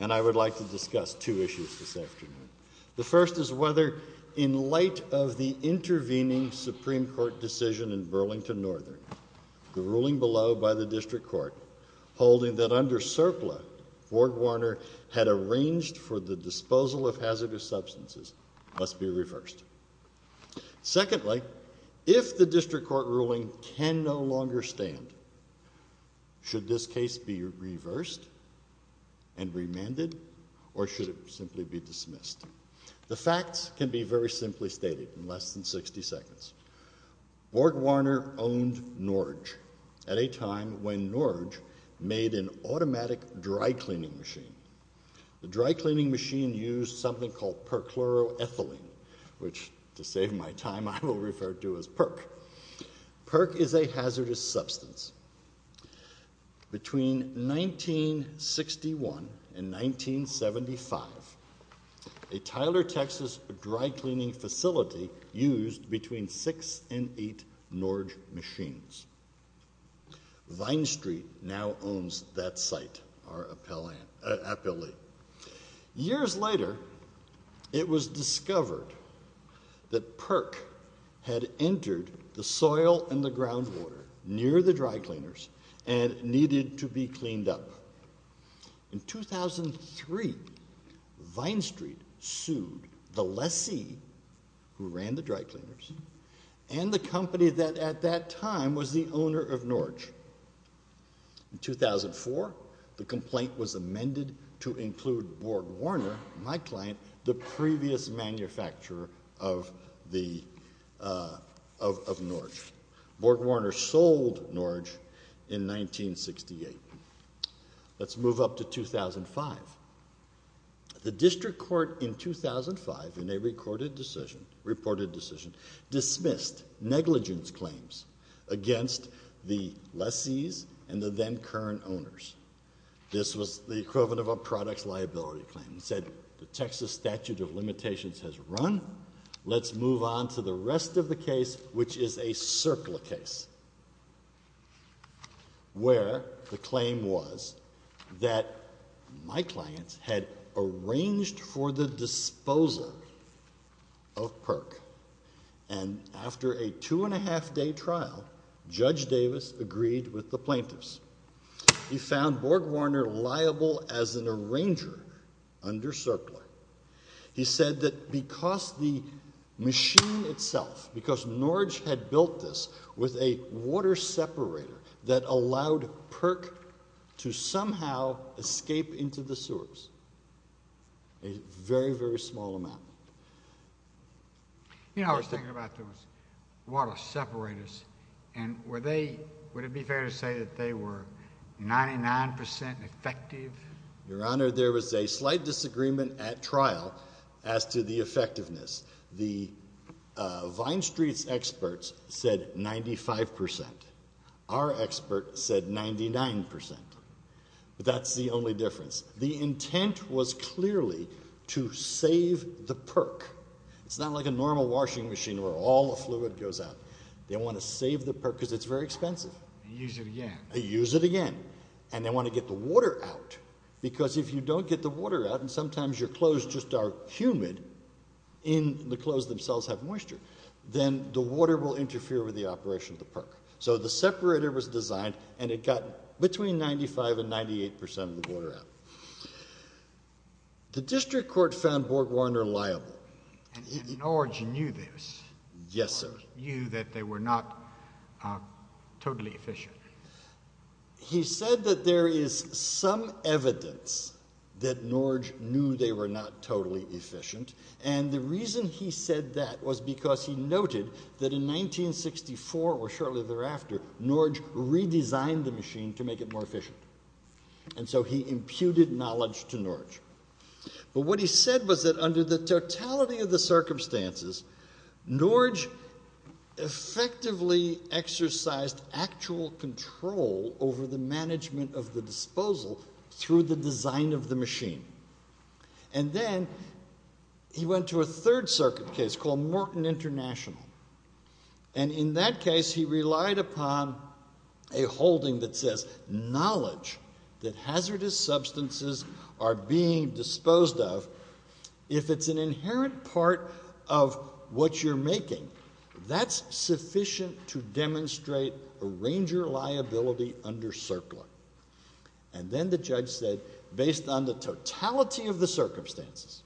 and I would like to discuss two issues this afternoon. The first is whether, in light of the intervening Supreme Court decision in Burlington Northern, the ruling below by the District Court holding that under CERCLA, Ward Warner had arranged for the disposal of hazardous substances must be reversed. Secondly, if the District Court ruling can no longer stand, should this case be and remanded or should it simply be dismissed? The facts can be very simply stated in less than 60 seconds. Ward Warner owned Norge at a time when Norge made an automatic dry cleaning machine. The dry cleaning machine used something called perchloroethylene, which to save my time I will refer to as PERC. PERC is a hazardous substance. Between 1961 and 1975, a Tyler, Texas dry cleaning facility used between six and eight Norge machines. Vine Street now owns that site, our appellee. Years later, it was discovered that PERC had entered the groundwater near the dry cleaners and needed to be cleaned up. In 2003, Vine Street sued the lessee who ran the dry cleaners and the company that at that time was the owner of Norge. In 2004, the complaint was amended to include Ward Warner, my client, the previous manufacturer of the of Norge. Ward Warner sold Norge in 1968. Let's move up to 2005. The District Court in 2005 in a recorded decision, reported decision, dismissed negligence claims against the lessees and the then current owners. This was the equivalent of a products liability claim. It said the Texas statute of limitations has run. Let's move on to the rest of the case, which is a circular case, where the claim was that my clients had arranged for the disposal of PERC. And after a two and a half day trial, Judge Davis agreed with the plaintiffs. He found Ward Warner liable as an arranger under circular. He said that because the machine itself, because Norge had built this with a water separator that allowed PERC to somehow escape into the sewers, a very, very small amount. You know, I was thinking about those water separators, and were they, would it be fair to say that they were 99% effective? Your Honor, there was a slight disagreement at trial as to the effectiveness. The Vine Street's experts said 95%. Our expert said 99%. But that's the only difference. The intent was clearly to save the PERC. It's not like a normal washing machine where all the fluid goes out. They want to save the PERC because it's very expensive. Use it again. Use it again. And they want to get the water out, because if you don't get the water out, and sometimes your clothes just are humid, and the clothes themselves have moisture, then the water will interfere with the operation of the PERC. So the separator was designed, and it got between 95 and 98% of the water out. The District Court found Ward Warner liable. And Norge knew this. Yes, sir. Norge knew that they were not totally efficient. He said that there is some evidence that Norge knew they were not totally efficient. And the reason he said that was because he noted that in 1964, or shortly thereafter, Norge redesigned the machine to make it more efficient. And so he imputed knowledge to Norge. But what he said was that under the totality of the circumstances, Norge effectively exercised actual control over the disposal through the design of the machine. And then he went to a Third Circuit case called Morton International. And in that case, he relied upon a holding that says, knowledge that hazardous substances are being disposed of, if it's an inherent part of what you're making, that's sufficient to And then the judge said, based on the totality of the circumstances,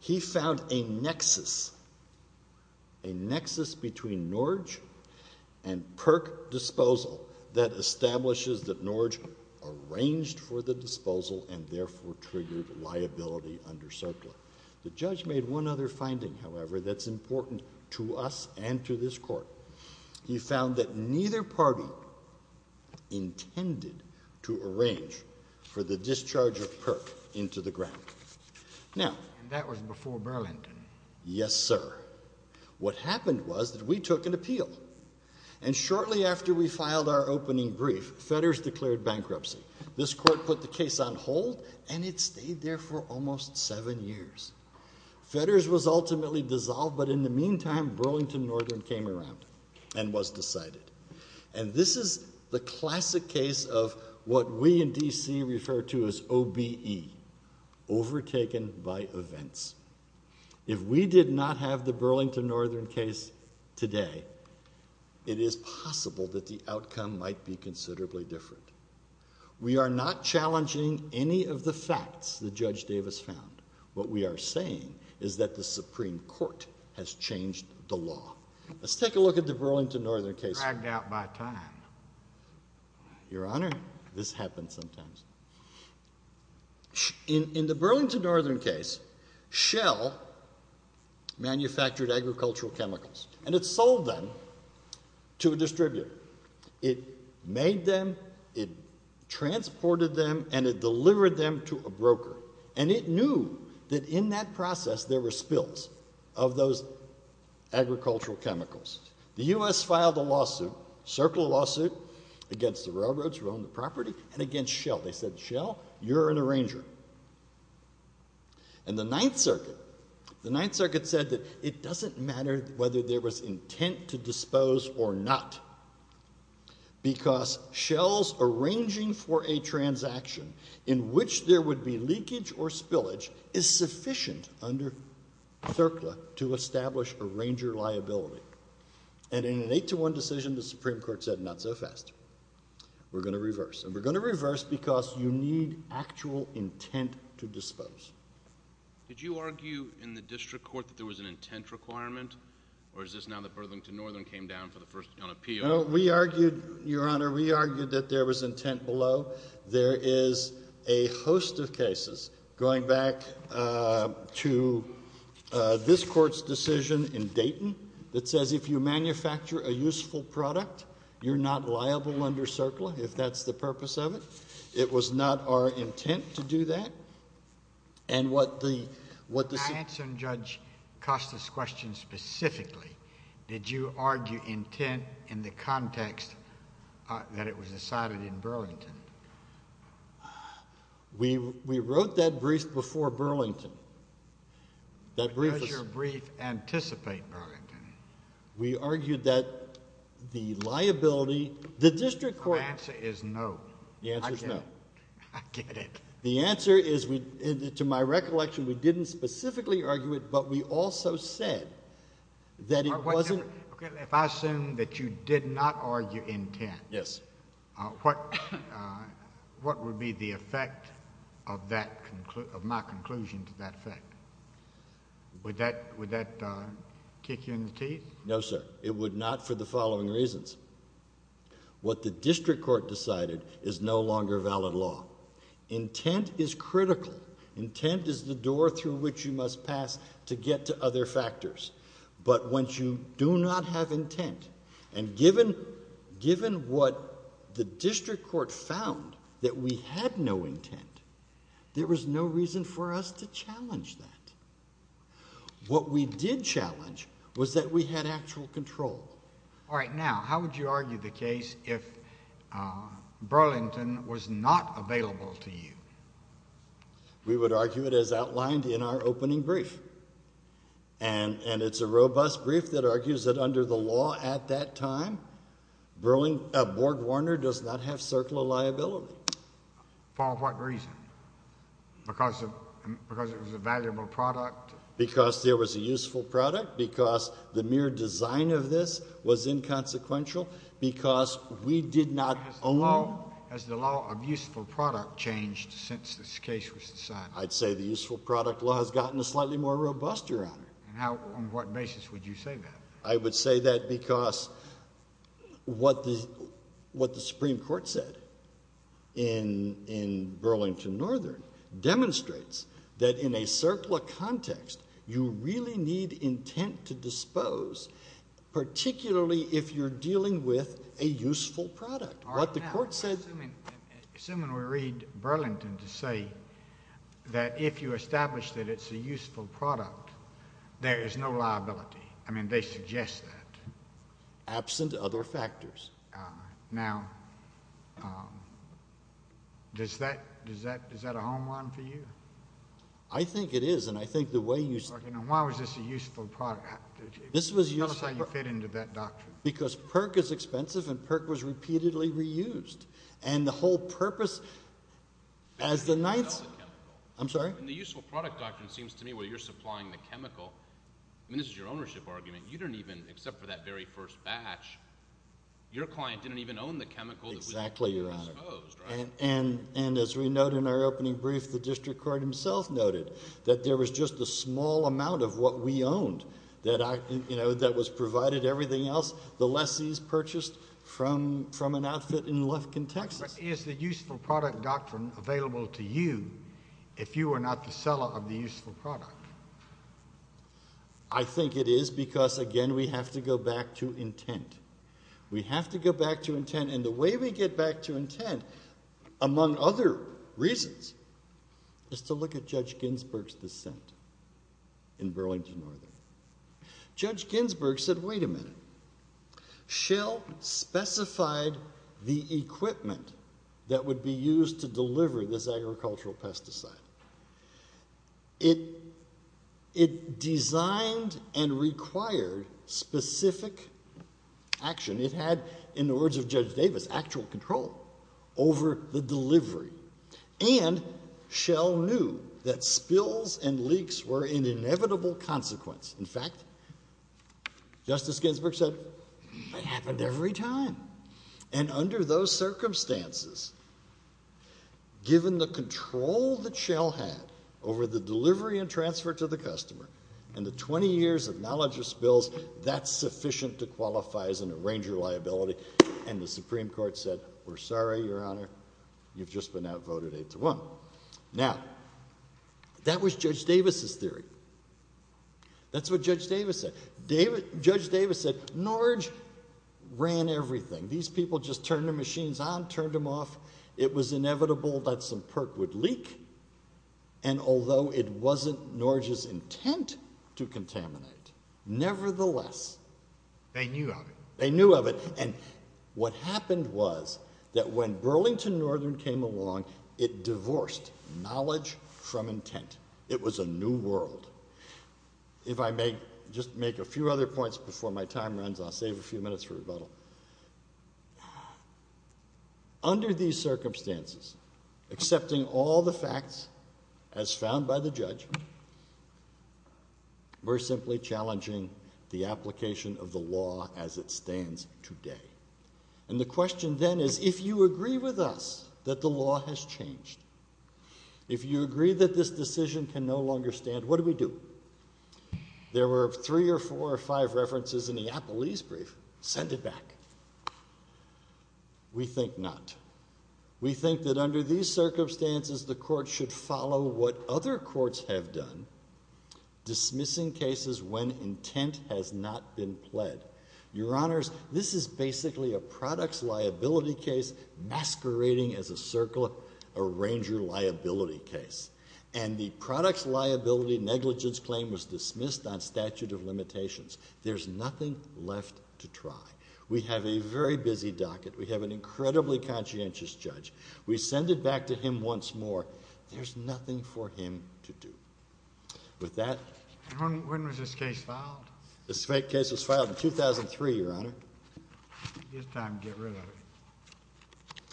he found a nexus, a nexus between Norge and PERC disposal that establishes that Norge arranged for the disposal and therefore triggered liability under circling. The judge made one other finding, however, that's important to us and to this court. He found that neither party intended to arrange for the discharge of PERC into the ground. Now, that was before Burlington. Yes, sir. What happened was that we took an appeal and shortly after we filed our opening brief, Fedders declared bankruptcy. This court put the case on hold and it stayed there for almost seven years. Fedders was ultimately dissolved, but in the and was decided. And this is the classic case of what we in DC refer to as OBE, overtaken by events. If we did not have the Burlington Northern case today, it is possible that the outcome might be considerably different. We are not challenging any of the facts that Judge Davis found. What we are saying is that the Supreme Court has changed the law. Let's take a look at the Burlington Northern case. Dragged out by time. Your Honor, this happens sometimes. In the Burlington Northern case, Shell manufactured agricultural chemicals and it sold them to a distributor. It made them, it transported them, and it sold them to a broker. And it knew that in that process there were spills of those agricultural chemicals. The U.S. filed a lawsuit, circle lawsuit, against the railroads who owned the property and against Shell. They said, Shell, you're an arranger. And the Ninth Circuit, the Ninth Circuit said that it doesn't matter whether there was intent to dispose or not because Shell's arranging for a transaction in which there would be leakage or spillage is sufficient under CERCLA to establish arranger liability. And in an 8 to 1 decision, the Supreme Court said, not so fast. We're going to reverse. And we're going to reverse because you need actual intent to dispose. Did you argue in the District Court that there was an intent requirement? Or is this now that Burlington Northern came down for the first time on appeal? No, we argued, Your Honor. And, Mr. Ferrello, there is a host of cases, going back to this court's decision in Dayton that says if you manufacture a useful product, you're not liable under CERCLA, if that's the purpose of it. It was not our intent to do that. And what the, what the... I answered Judge Costa's question specifically. Did you argue intent in the context that it was decided in Burlington? We, we wrote that brief before Burlington. That brief... Does your brief anticipate Burlington? We argued that the liability, the district court... My answer is no. The answer is no. I get it. The answer is, to my recollection, we didn't specifically argue it, but we also said that it wasn't... If I assume that you did not argue intent... Yes. What, what would be the effect of that, of my conclusion to that effect? Would that, would that kick you in the teeth? No, sir. It would not for the following reasons. What the district court decided is no longer valid law. Intent is critical. Intent is the door through which you must pass to get to other factors. But once you do not have intent, and given, given what the district court found, that we had no intent, there was no reason for us to challenge that. What we did challenge was that we had actual control. All right, now, how would you argue the case if Burlington was not available to you? We would argue it as outlined in our opening brief. And, and it's a robust brief that argues that under the law at that time, Burlington, uh, Board Warner does not have circular liability. For what reason? Because of, because it was a valuable product? Because there was a useful product, because the mere design of this was inconsequential, because we did not own it. Has the law, has the law of useful product changed since this case was decided? I'd say the useful product law has gotten a slightly more robust, Your Honor. And how, on what basis would you say that? I would say that because what the, what the Supreme Court said in, in Burlington Northern demonstrates that in a circular context, you really need intent to dispose, particularly if you're dealing with a useful product. What the court said, assuming, assuming we read Burlington to say that if you establish that it's a useful product, there is no liability. I mean, they suggest that. Absent other factors. Now, um, does that, does that, is that a home run for you? I think it is. And I think the way you, why was this a useful product? This was useful. Tell us how you fit into that doctrine. Because PERC is expensive and PERC was repeatedly reused. And the whole purpose, as the Knights, I'm sorry? And the useful product doctrine seems to me where you're supplying the chemical. I mean, this is your ownership argument. You don't even, except for that very first batch, your client didn't even own the chemical. Exactly, Your Honor. And, and, and as we note in our opening brief, the district court himself noted that there was just a small amount of what we owned that, you know, that was provided, everything else, the lessees purchased from, from an outfit in Lufkin, Texas. Is the useful product doctrine available to you if you are not the seller of the useful product? I think it is because again, we have to go back to intent. We have to go back to intent. And the way we get back to intent among other reasons is to look at Judge Ginsburg's dissent in Burlington Northern. Judge Ginsburg said, wait a minute. Schell specified the equipment that would be used to deliver this agricultural pesticide. It, it designed and required specific action. It had, in the words of Judge Davis, actual control over the delivery. And Schell knew that spills and leaks were an consequence. In fact, Justice Ginsburg said, it happened every time. And under those circumstances, given the control that Schell had over the delivery and transfer to the customer and the 20 years of knowledge of spills, that's sufficient to qualify as an arranger liability. And the Supreme Court said, we're sorry, Your Honor. You've just been outvoted eight to one. Now, that was Judge Davis's theory. That's what Judge Davis said. Judge Davis said, Norge ran everything. These people just turned their machines on, turned them off. It was inevitable that some perk would leak. And although it wasn't Norge's intent to contaminate, nevertheless, they knew of it. They knew of it. And what happened was that when Burlington Northern came along, it divorced knowledge from intent. It was a new world. If I may just make a few other points before my time runs, I'll save a few minutes for rebuttal. Under these circumstances, accepting all the facts as found by the judge, we're simply challenging the application of the law as it stands today. And the question then is, if you agree with us that the law has changed, if you agree that this decision can no longer stand, what do we do? There were three or four or five references in the Appellee's brief. Send it back. We think not. We think that under these circumstances, the court should follow what other courts have done, dismissing cases when intent has not been pled. Your Honors, this is basically a products liability case masquerading as a circle arranger liability case. And the products liability negligence claim was dismissed on statute of limitations. There's nothing left to try. We have a very busy docket. We have an incredibly conscientious judge. We send it back to him once more. There's nothing for him to do with that. When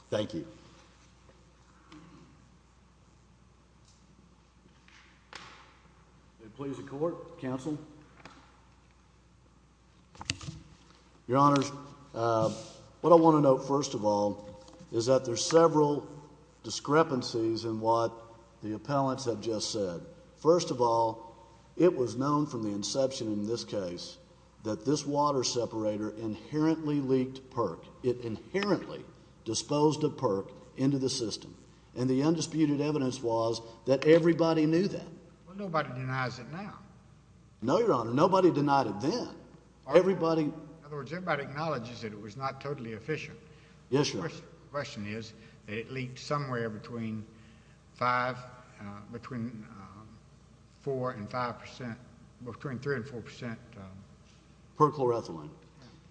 thank you. Please. The court counsel. Your Honors. What I want to know, first of all, is that there's several discrepancies in what the appellants have just said. First of all, it was known from the inception in this case that this water separator inherently leaked perk. It inherently disposed of perk into the system, and the undisputed evidence was that everybody knew that nobody denies it now. No, Your Honor. Nobody denied it then. Everybody. In other words, everybody acknowledges that it was not totally efficient. The question is, it leaked somewhere between five between four and 5% between three and 4% per ethylene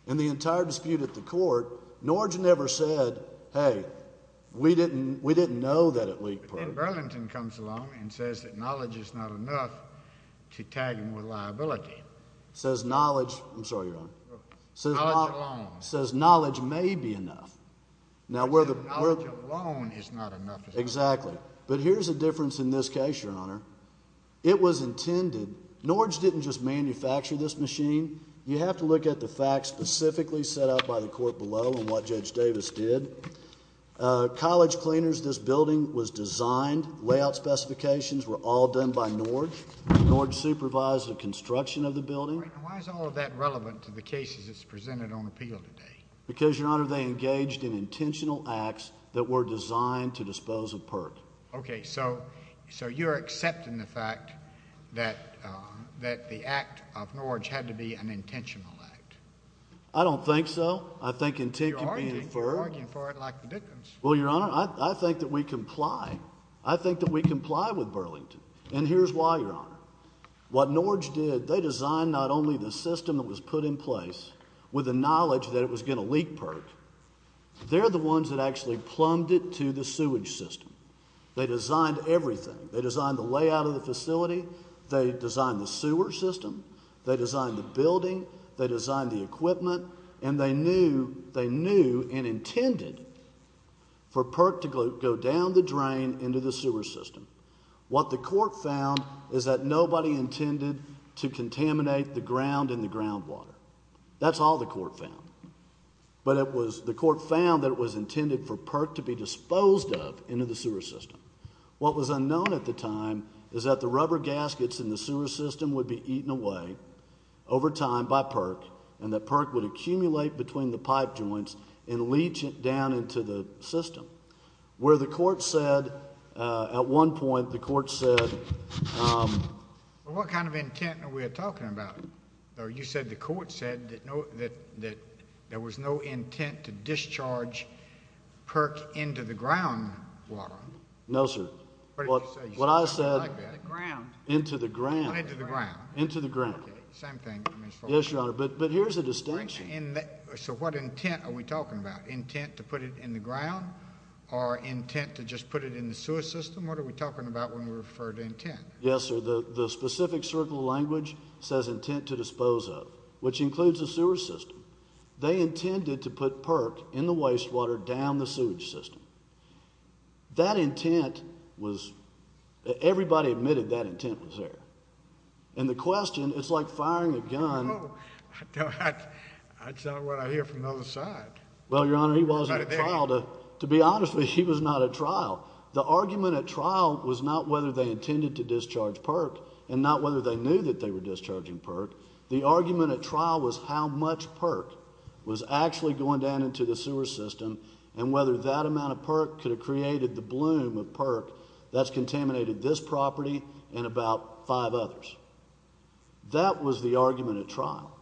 in the entire dispute at the court. Norge never said, Hey, we didn't. We didn't know that it leaked. Burlington comes along and says that knowledge is not enough to tag him with liability, says knowledge. I'm sorry, Your Honor, says says knowledge may be enough now where the loan is not enough. Exactly. But here's a difference in this case, Your Honor. It was look at the facts specifically set up by the court below and what Judge Davis did. Uh, college cleaners. This building was designed. Layout specifications were all done by Norge. Norge supervised the construction of the building. Why is all of that relevant to the cases that's presented on appeal today? Because, Your Honor, they engaged in intentional acts that were designed to dispose of perk. Okay, so so you're accepting the fact that that the act of Norwich had to be an intentional act. I don't think so. I think in taking for arguing for it like the victims. Well, Your Honor, I think that we comply. I think that we comply with Burlington. And here's why, Your Honor. What Norge did. They designed not only the system that was put in place with the knowledge that it was gonna leak perk. They're the ones that actually plumbed it to the sewage system. They designed everything. They designed the sewer system. They designed the building. They designed the equipment, and they knew they knew and intended for perk to go down the drain into the sewer system. What the court found is that nobody intended to contaminate the ground in the ground water. That's all the court found. But it was the court found that it was intended for perk to be disposed of into the sewer system. What was unknown at the time is that the rubber gaskets in the sewer system would be eaten away over time by perk, and that perk would accumulate between the pipe joints and leach it down into the system where the court said at one point, the court said, um, what kind of intent we're talking about? You said the court said that there was no intent to discharge perk into the ground water. No, sir. What? What I said ground into the ground into the ground into the ground. Same thing. Yes, Your Honor. But here's a distinction. So what intent are we talking about intent to put it in the ground or intent to just put it in the sewer system? What are we talking about when we refer to intent? Yes, sir. The specific circle language says intent to dispose of, which includes the sewer system. They intended to put perk in the wastewater down the sewage system. That intent was everybody admitted that intent was there. And the question it's like firing a gun. I tell her what I hear from the other side. Well, Your Honor, he was to be honest with. He was not a trial. The argument at trial was not whether they intended to discharge perk and not whether they knew that they were discharging perk. The argument at trial was how much perk was actually going down into the sewer system and whether that amount of could have created the bloom of perk that's contaminated this property and about five others. That was the argument at trial.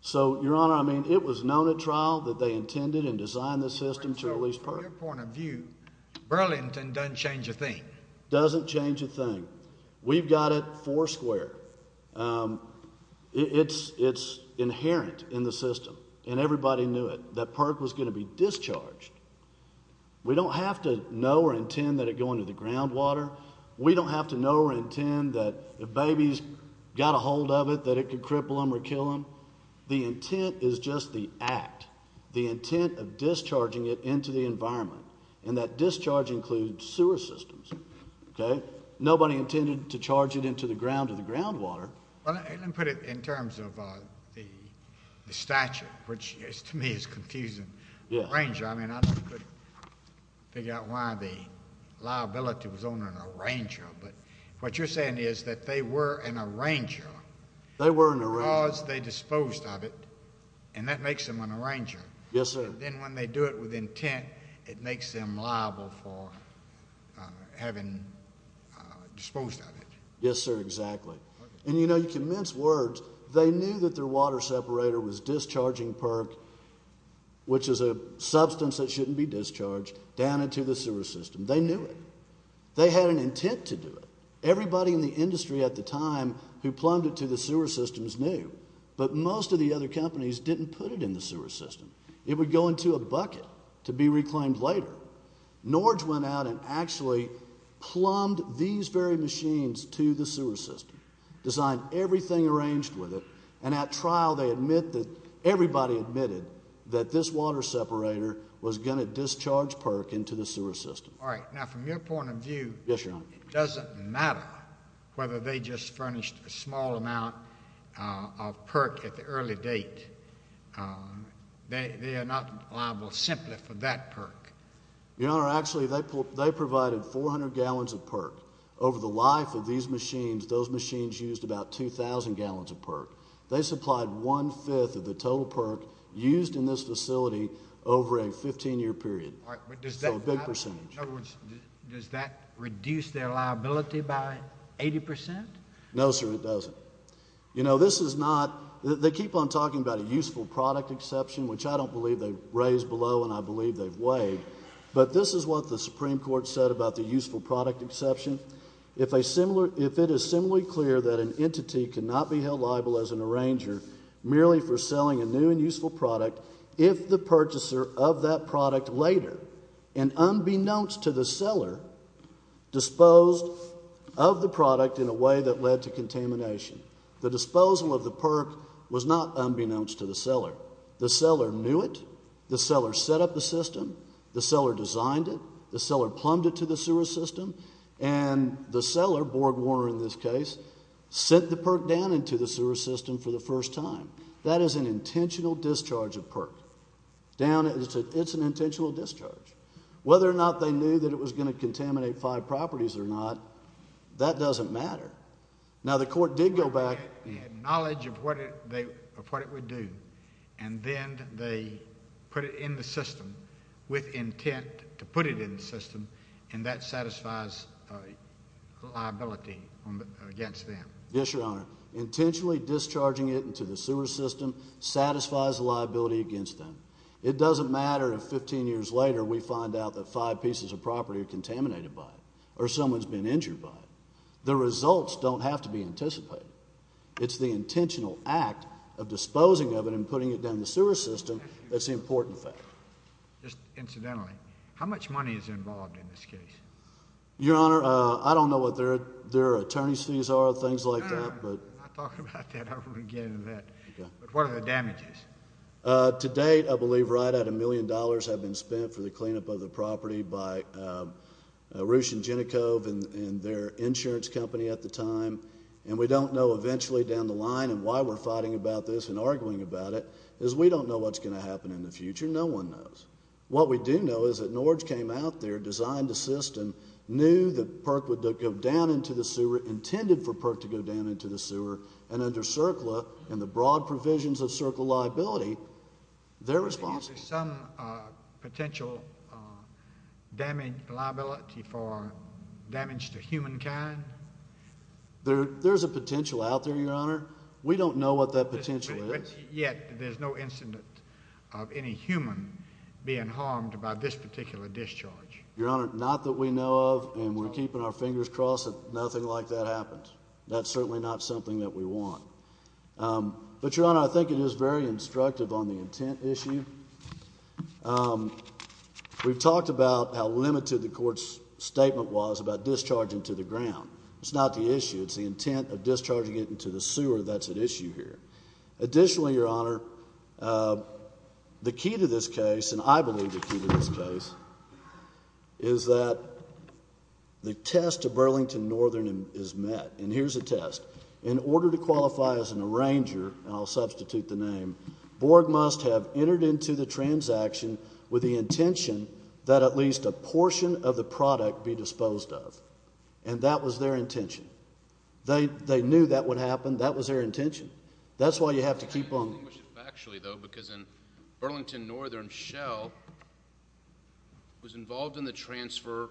So, Your Honor, I mean, it was known a trial that they intended and designed the system to release. Point of view. Burlington doesn't change a thing. Doesn't change a thing. We've got it four square. Um, it's inherent in the we don't have to know or intend that it going to the groundwater. We don't have to know or intend that the baby's got a hold of it, that it could cripple him or kill him. The intent is just the act, the intent of discharging it into the environment. And that discharge includes sewer systems. Okay. Nobody intended to charge it into the ground of the groundwater. Put it in terms of the statue, which is to me is confusing. Arranger. I mean, I could figure out why the liability was on an arranger. But what you're saying is that they were an arranger. They weren't because they disposed of it. And that makes them an arranger. Yes, sir. Then when they do it with intent, it makes them liable for having disposed of it. Yes, sir. Exactly. And, you know, you can mince words. They knew that their water separator was discharging perk, which is a substance that shouldn't be discharged down into the sewer system. They knew it. They had an intent to do it. Everybody in the industry at the time who plumbed it to the sewer systems knew. But most of the other companies didn't put it in the sewer system. It would go into a bucket to be reclaimed later. Norge went out and actually plumbed these very machines to the sewer system, designed everything arranged with it. And at trial, they admit that everybody admitted that this water separator was going to discharge perk into the sewer system. All right now, from your point of view, it doesn't matter whether they just furnished a small amount of perk at the early date. Uh, they're not liable simply for that perk. You know, actually, they they provided 400 gallons of perk over the life of these machines. Those machines used about 2000 gallons of perk. They supplied 1 5th of the total perk used in this facility over a 15 year period. A big percentage. Does that reduce their liability by 80%? No, sir, it doesn't. You know, this is not. They keep on talking about a useful product exception, which I don't believe they raised below, and I believe they've weighed. But this is what the Supreme Court said about the useful product exception. If a similar if it is similarly clear that an entity cannot be held liable as an arranger merely for selling a new and useful product, if the purchaser of that product later and unbeknownst to the seller disposed of the product in a way that led to unbeknownst to the seller, the seller knew it. The seller set up the system. The seller designed it. The seller plumbed it to the sewer system, and the seller, Borg Warner in this case, sent the perk down into the sewer system for the first time. That is an intentional discharge of perk down. It's an intentional discharge. Whether or not they knew that it was going to contaminate five properties or not, that doesn't matter. Now, the court did go back knowledge of what they of what it would do, and then they put it in the system with intent to put it in the system, and that satisfies liability against them. Yes, Your Honor. Intentionally discharging it into the sewer system satisfies liability against them. It doesn't matter. 15 years later, we find out that five pieces of property are contaminated by it or someone's been injured by it. The results don't have to be anticipated. It's the intentional act of disposing of it and putting it down the sewer system. That's the important fact. Just incidentally, how much money is involved in this case? Your Honor, I don't know what their their attorney's fees are. Things like that. But I thought about that over again that what are the damages? Uh, today, I believe right at a million dollars have been spent for the cleanup of the property by, uh, Russian Genicove and their insurance company at the time, and we don't know eventually down the line and why we're fighting about this and arguing about it is we don't know what's gonna happen in the future. No one knows. What we do know is that Norge came out there, designed the system, knew that Perk would go down into the sewer, intended for Perk to go down into the sewer and under Circla and the broad provisions of circle liability. They're responsible some potential, uh, damage liability for damage to humankind. There there's a potential out there, Your Honor. We don't know what that potential is yet. There's no incident of any human being harmed about this particular discharge, Your Honor. Not that we know of. And we're keeping our fingers crossed that nothing like that happens. That's certainly not something that we want. Um, but, Your Honor, I think it is very instructive on the intent issue. Um, we've talked about how limited the court's statement was about discharging to the ground. It's not the issue. It's the intent of discharging it into the sewer. That's an issue here. Additionally, Your Honor, uh, the key to this case, and I believe the key to this case is that the test of Burlington Northern is met. And here's a test in order to have entered into the transaction with the intention that at least a portion of the product be disposed of. And that was their intention. They knew that would happen. That was their intention. That's why you have to keep on actually, though, because in Burlington Northern Shell was involved in the transfer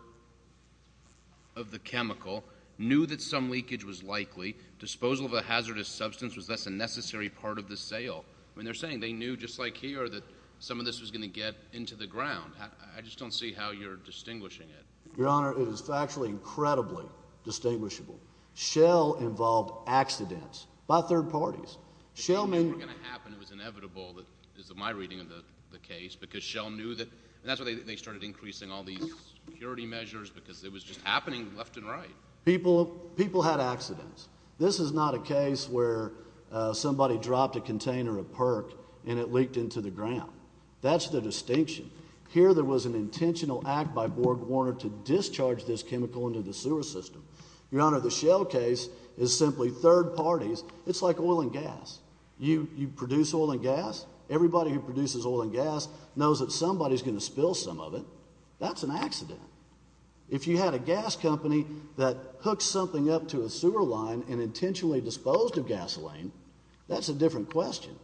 of the chemical knew that some leakage was likely disposal of a hazardous substance was less a necessary part of the sale when they're saying they knew just like here that some of this was gonna get into the ground. I just don't see how you're distinguishing it. Your Honor, it is actually incredibly distinguishable. Shell involved accidents by third parties. Shellman gonna happen. It was inevitable. That is my reading of the case, because Shell knew that that's what they started increasing all these security measures because it was just happening left and right. People people had accidents. This is not a case where somebody dropped a container of perk, and it leaked into the ground. That's the distinction here. There was an intentional act by Borg Warner to discharge this chemical into the sewer system. Your Honor, the shell case is simply third parties. It's like oil and gas. You produce oil and gas. Everybody who produces oil and gas knows that somebody's gonna spill some of it. That's an accident. If you had a gas company that hooked something up to the sewer line and intentionally disposed of gasoline, that's a different question.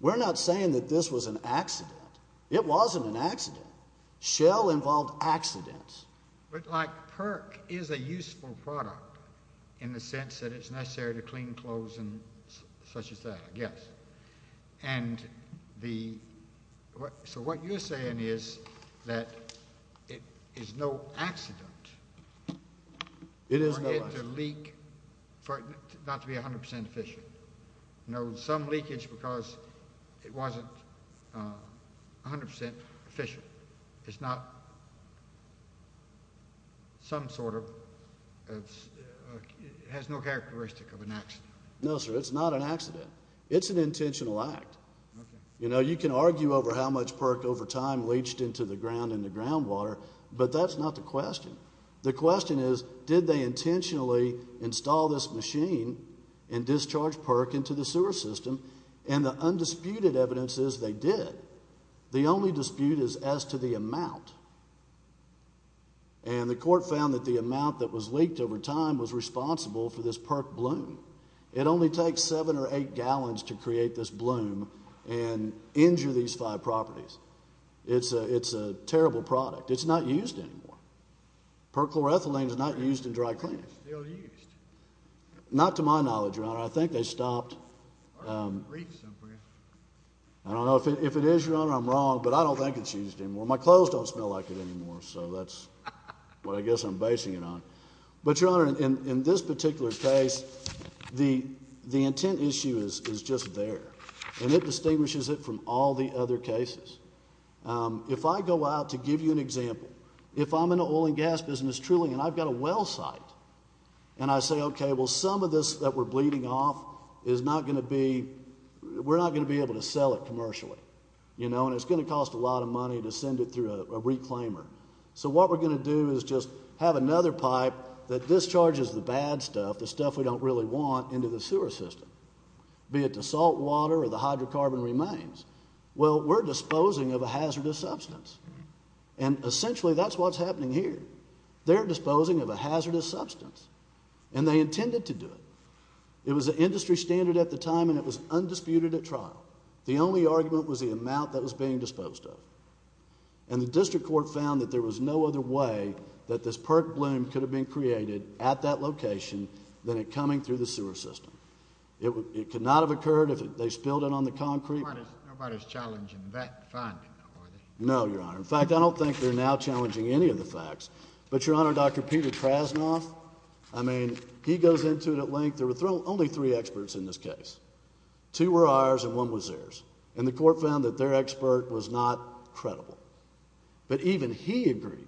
We're not saying that this was an accident. It wasn't an accident. Shell involved accidents. But like perk is a useful product in the sense that it's necessary to clean clothes and such as that, I guess. And the so what you're saying is that it is no accident. It is a leak for not to be 100% efficient. No, some leakage because it wasn't 100% efficient. It's not some sort of has no characteristic of an accident. No, sir. It's not an accident. It's an intentional act. You know, you can argue over how much perk over time leached into the ground in the groundwater. But that's not the question. The question is, did they intentionally install this machine and discharge perk into the sewer system? And the undisputed evidence is they did. The only dispute is as to the amount. And the court found that the amount that was leaked over time was responsible for this perk bloom. It only takes seven or eight gallons to create this bloom and injure these five properties. It's a It's a terrible product. It's not used anymore. Perchlorethylene is not used in dry clean. Not to my knowledge. I think they stopped. I don't know if it is your honor. I'm wrong, but I don't think it's used anymore. My clothes don't smell like it anymore. So that's what I guess I'm basing it on. But your honor, in this particular case, the intent issue is just there, and it distinguishes it from all the other cases. If I go out to give you an example, if I'm in the oil and gas business truly, and I've got a well site, and I say, Okay, well, some of this that we're bleeding off is not gonna be. We're not gonna be able to sell it commercially, you know, and it's gonna cost a lot of money to send it through a reclaimer. So what we're gonna do is just have another pipe that discharges the bad stuff, the stuff we don't really want into the sewer system, be it to salt water or the hydrocarbon remains. Well, we're disposing of a hazardous substance, and essentially, that's what's happening here. They're disposing of a hazardous substance, and they intended to do it. It was an industry standard at the time, and it was undisputed at trial. The only argument was the amount that was being disposed of, and the district court found that there was no other way that this perk bloom could have been created at that location than it coming through the sewer system. It could not have occurred if they spilled it on the concrete. Nobody's challenging that. No, Your Honor. In fact, I don't think they're now challenging any of the facts. But, Your Honor, Dr Peter Krasnoff. I mean, he goes into it at length. There were only three experts in this case. Two were ours, and one was theirs, and the court found that their expert was not credible. But even he agreed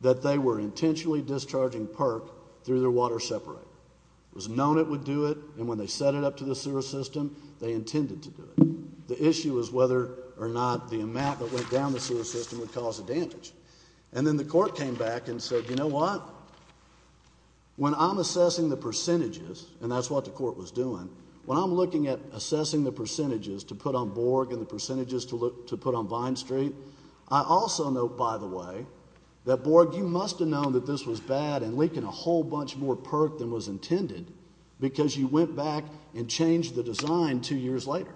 that they were intentionally discharging perk through their water separator. It was known it would do it, and when they set it up to the sewer system, they intended to do it. The issue is whether or not the amount that went down the sewer system would cause a damage. And then the court came back and said, You know what? When I'm assessing the percentages, and that's what the court was doing when I'm looking at assessing the percentages to put on board and the percentages to look to put on Vine Street. I also know, by the way, that was bad and leaking a whole bunch more perk than was intended because you went back and changed the design two years later.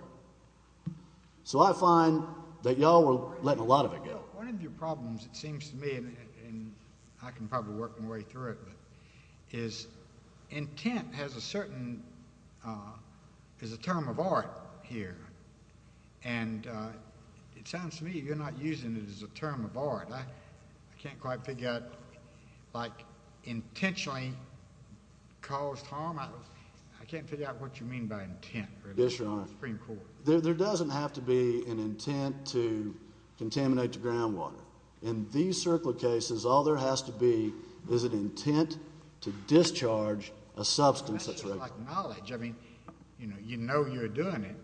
So I find that y'all were letting a lot of it go. One of your problems, it seems to me, and I can probably work my way through it, is intent has a certain, uh, is a term of art here. And, uh, it sounds to me you're not using it as a term of art. I can't quite figure out, like, intentionally caused harm. I can't figure out what you mean by intent. There doesn't have to be an intent to contaminate the groundwater. In these circular cases, all there has to be is an intent to discharge a substance that's like knowledge. I mean, you know, you know you're doing it.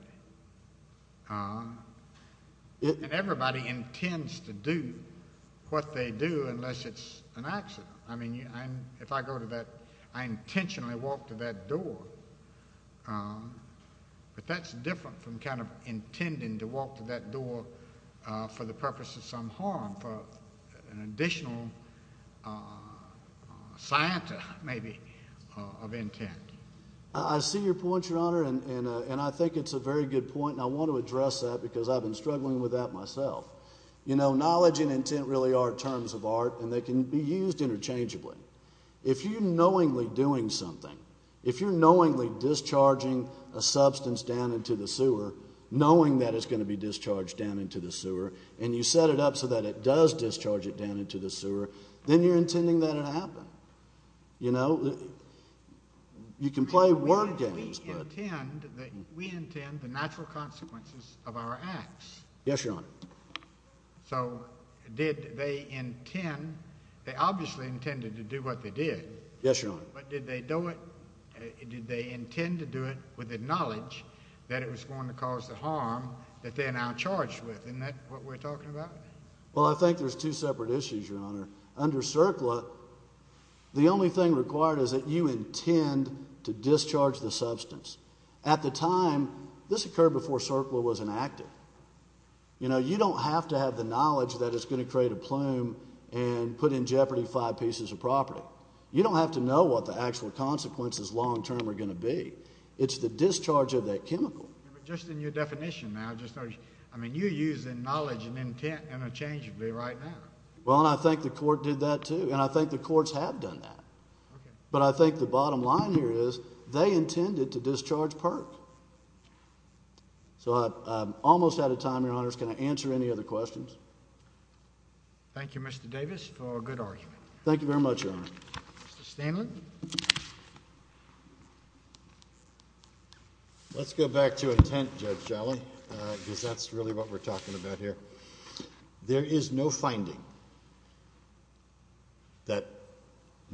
Uh, everybody intends to do what they do unless it's an accident. I mean, if I go to that, I intentionally walked to that door. But that's different from kind of intending to walk to that door for the purpose of some harm for an additional, uh, Santa, maybe of intent. I see your point, Your Honor, and I think it's a very good point. And I want to address that because I've been struggling with that myself. You know, knowledge and intent really are terms of art, and they can be used interchangeably. If you're knowingly doing something, if you're knowingly discharging a substance down into the sewer, knowing that it's going to be discharged down into the sewer, and you set it up so that it does discharge it down into the sewer, then you're intending that it happened. You know, you can play word games, but we intend the natural consequences of our acts. Yes, Your Honor. So did they intend? They obviously intended to do what they did. Yes, Your Honor. But did they do it? Did they intend to do it with the knowledge that it was going to cause the harm that they're now charged with? And that's what we're talking about. Well, I think there's two separate issues, Your Honor. Under CERCLA, the only thing required is that you intend to discharge the substance. At the time, this occurred before CERCLA was inactive. You know, you don't have to have the knowledge that it's going to create a plume and put in jeopardy five pieces of property. You don't have to know what the actual consequences long term are going to be. It's the discharge of that chemical. Just in your definition now, I mean, you're acknowledging intent interchangeably right now. Well, and I think the court did that, too. And I think the courts have done that. But I think the bottom line here is they intended to discharge PERC. So I'm almost out of time, Your Honor. Can I answer any other questions? Thank you, Mr Davis, for a good argument. Thank you very much, Your Honor. Mr. Stanley. Let's go back to intent, Judge Shelley, because that's really what we're talking about here. There is no finding that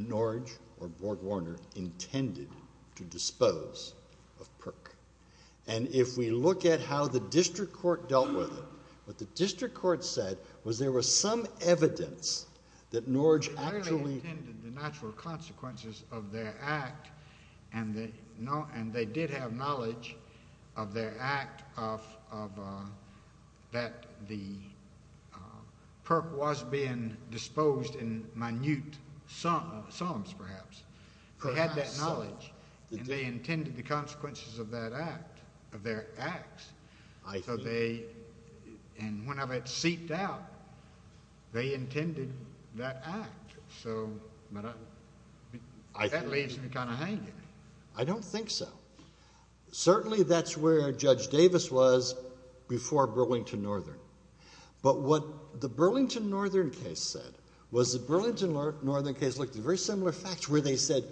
Norridge or Borg-Warner intended to dispose of PERC. And if we look at how the district court dealt with it, what the district court said was there was some evidence that Norridge actually intended the natural consequences of their act, and they had that knowledge that the PERC was being disposed in minute sums, perhaps. They had that knowledge, and they intended the consequences of that act, of their acts. And when it seeped out, they intended that act. So that leaves me kind of hanging. I don't think so. Certainly that's where Judge Davis was before Burlington Northern. But what the Burlington Northern case said was the Burlington Northern case looked at very similar facts, where they said,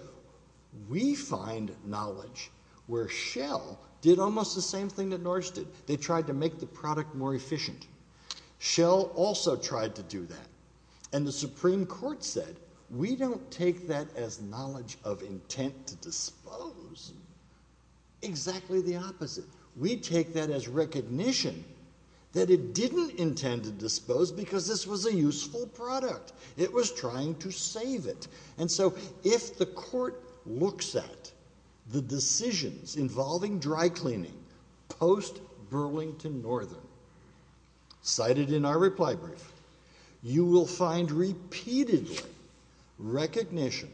we find knowledge where Shell did almost the same thing that Norridge did. They tried to make the product more efficient. Shell also tried to do that. And the Supreme Court said, we don't take that as knowledge of intent to dispose. Exactly the opposite. We take that as recognition that it didn't intend to dispose because this was a useful product. It was trying to save it. And so if the court looks at the decisions involving dry cleaning post Burlington Northern, cited in our reply brief, you will find repeatedly recognition,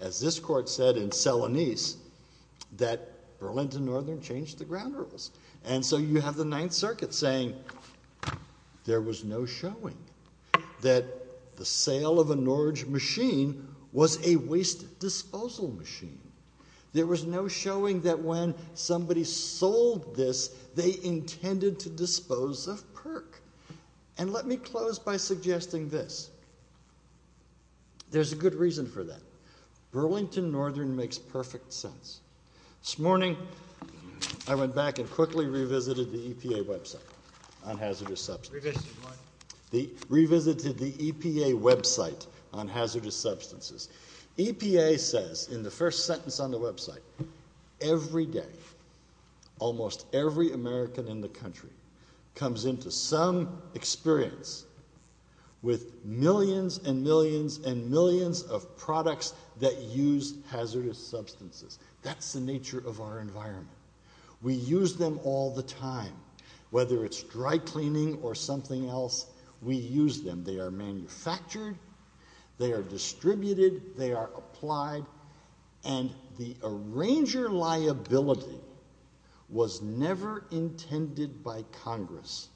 as this court said in Selanese, that Burlington Northern changed the ground rules. And so you have the Ninth Circuit saying there was no showing that the sale of a Norridge machine was a waste disposal machine. There was no showing that when somebody sold this, they intended to dispose of PERC. And let me close by suggesting this. There's a good reason for that. Burlington Northern makes perfect sense. This morning, I went back and quickly revisited the EPA website on hazardous substances. Revisited what? Revisited the EPA website on hazardous substances. EPA says in the first sentence on the website, every day, almost every American in the country comes into some experience with millions and millions and millions of products that use hazardous substances. That's the nature of our environment. We use them all the time. Whether it's dry cleaning or something else, we use them. They are manufactured. They are distributed. They are applied. And the EPA did not design Congress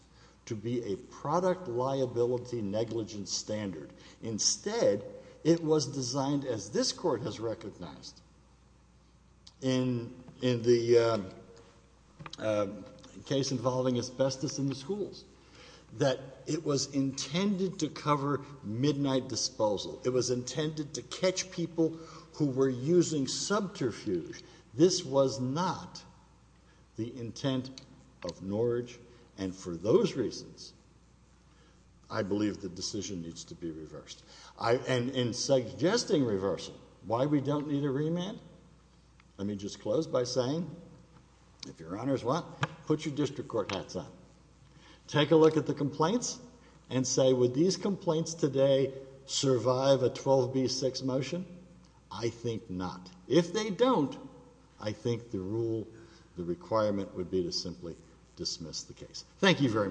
to be a product liability negligence standard. Instead, it was designed, as this court has recognized, in the case involving asbestos in the schools, that it was intended to cover midnight disposal. It was intended to catch people who were using subterfuge. This was not the intent of Norridge. And for those reasons, I believe the decision needs to be reversed. And in suggesting reversal, why we don't need a remand? Let me just close by saying, if your honors want, put your district court hats on. Take a look at the complaints and say, would these complaints today survive a rule? The requirement would be to simply dismiss the case. Thank you very much.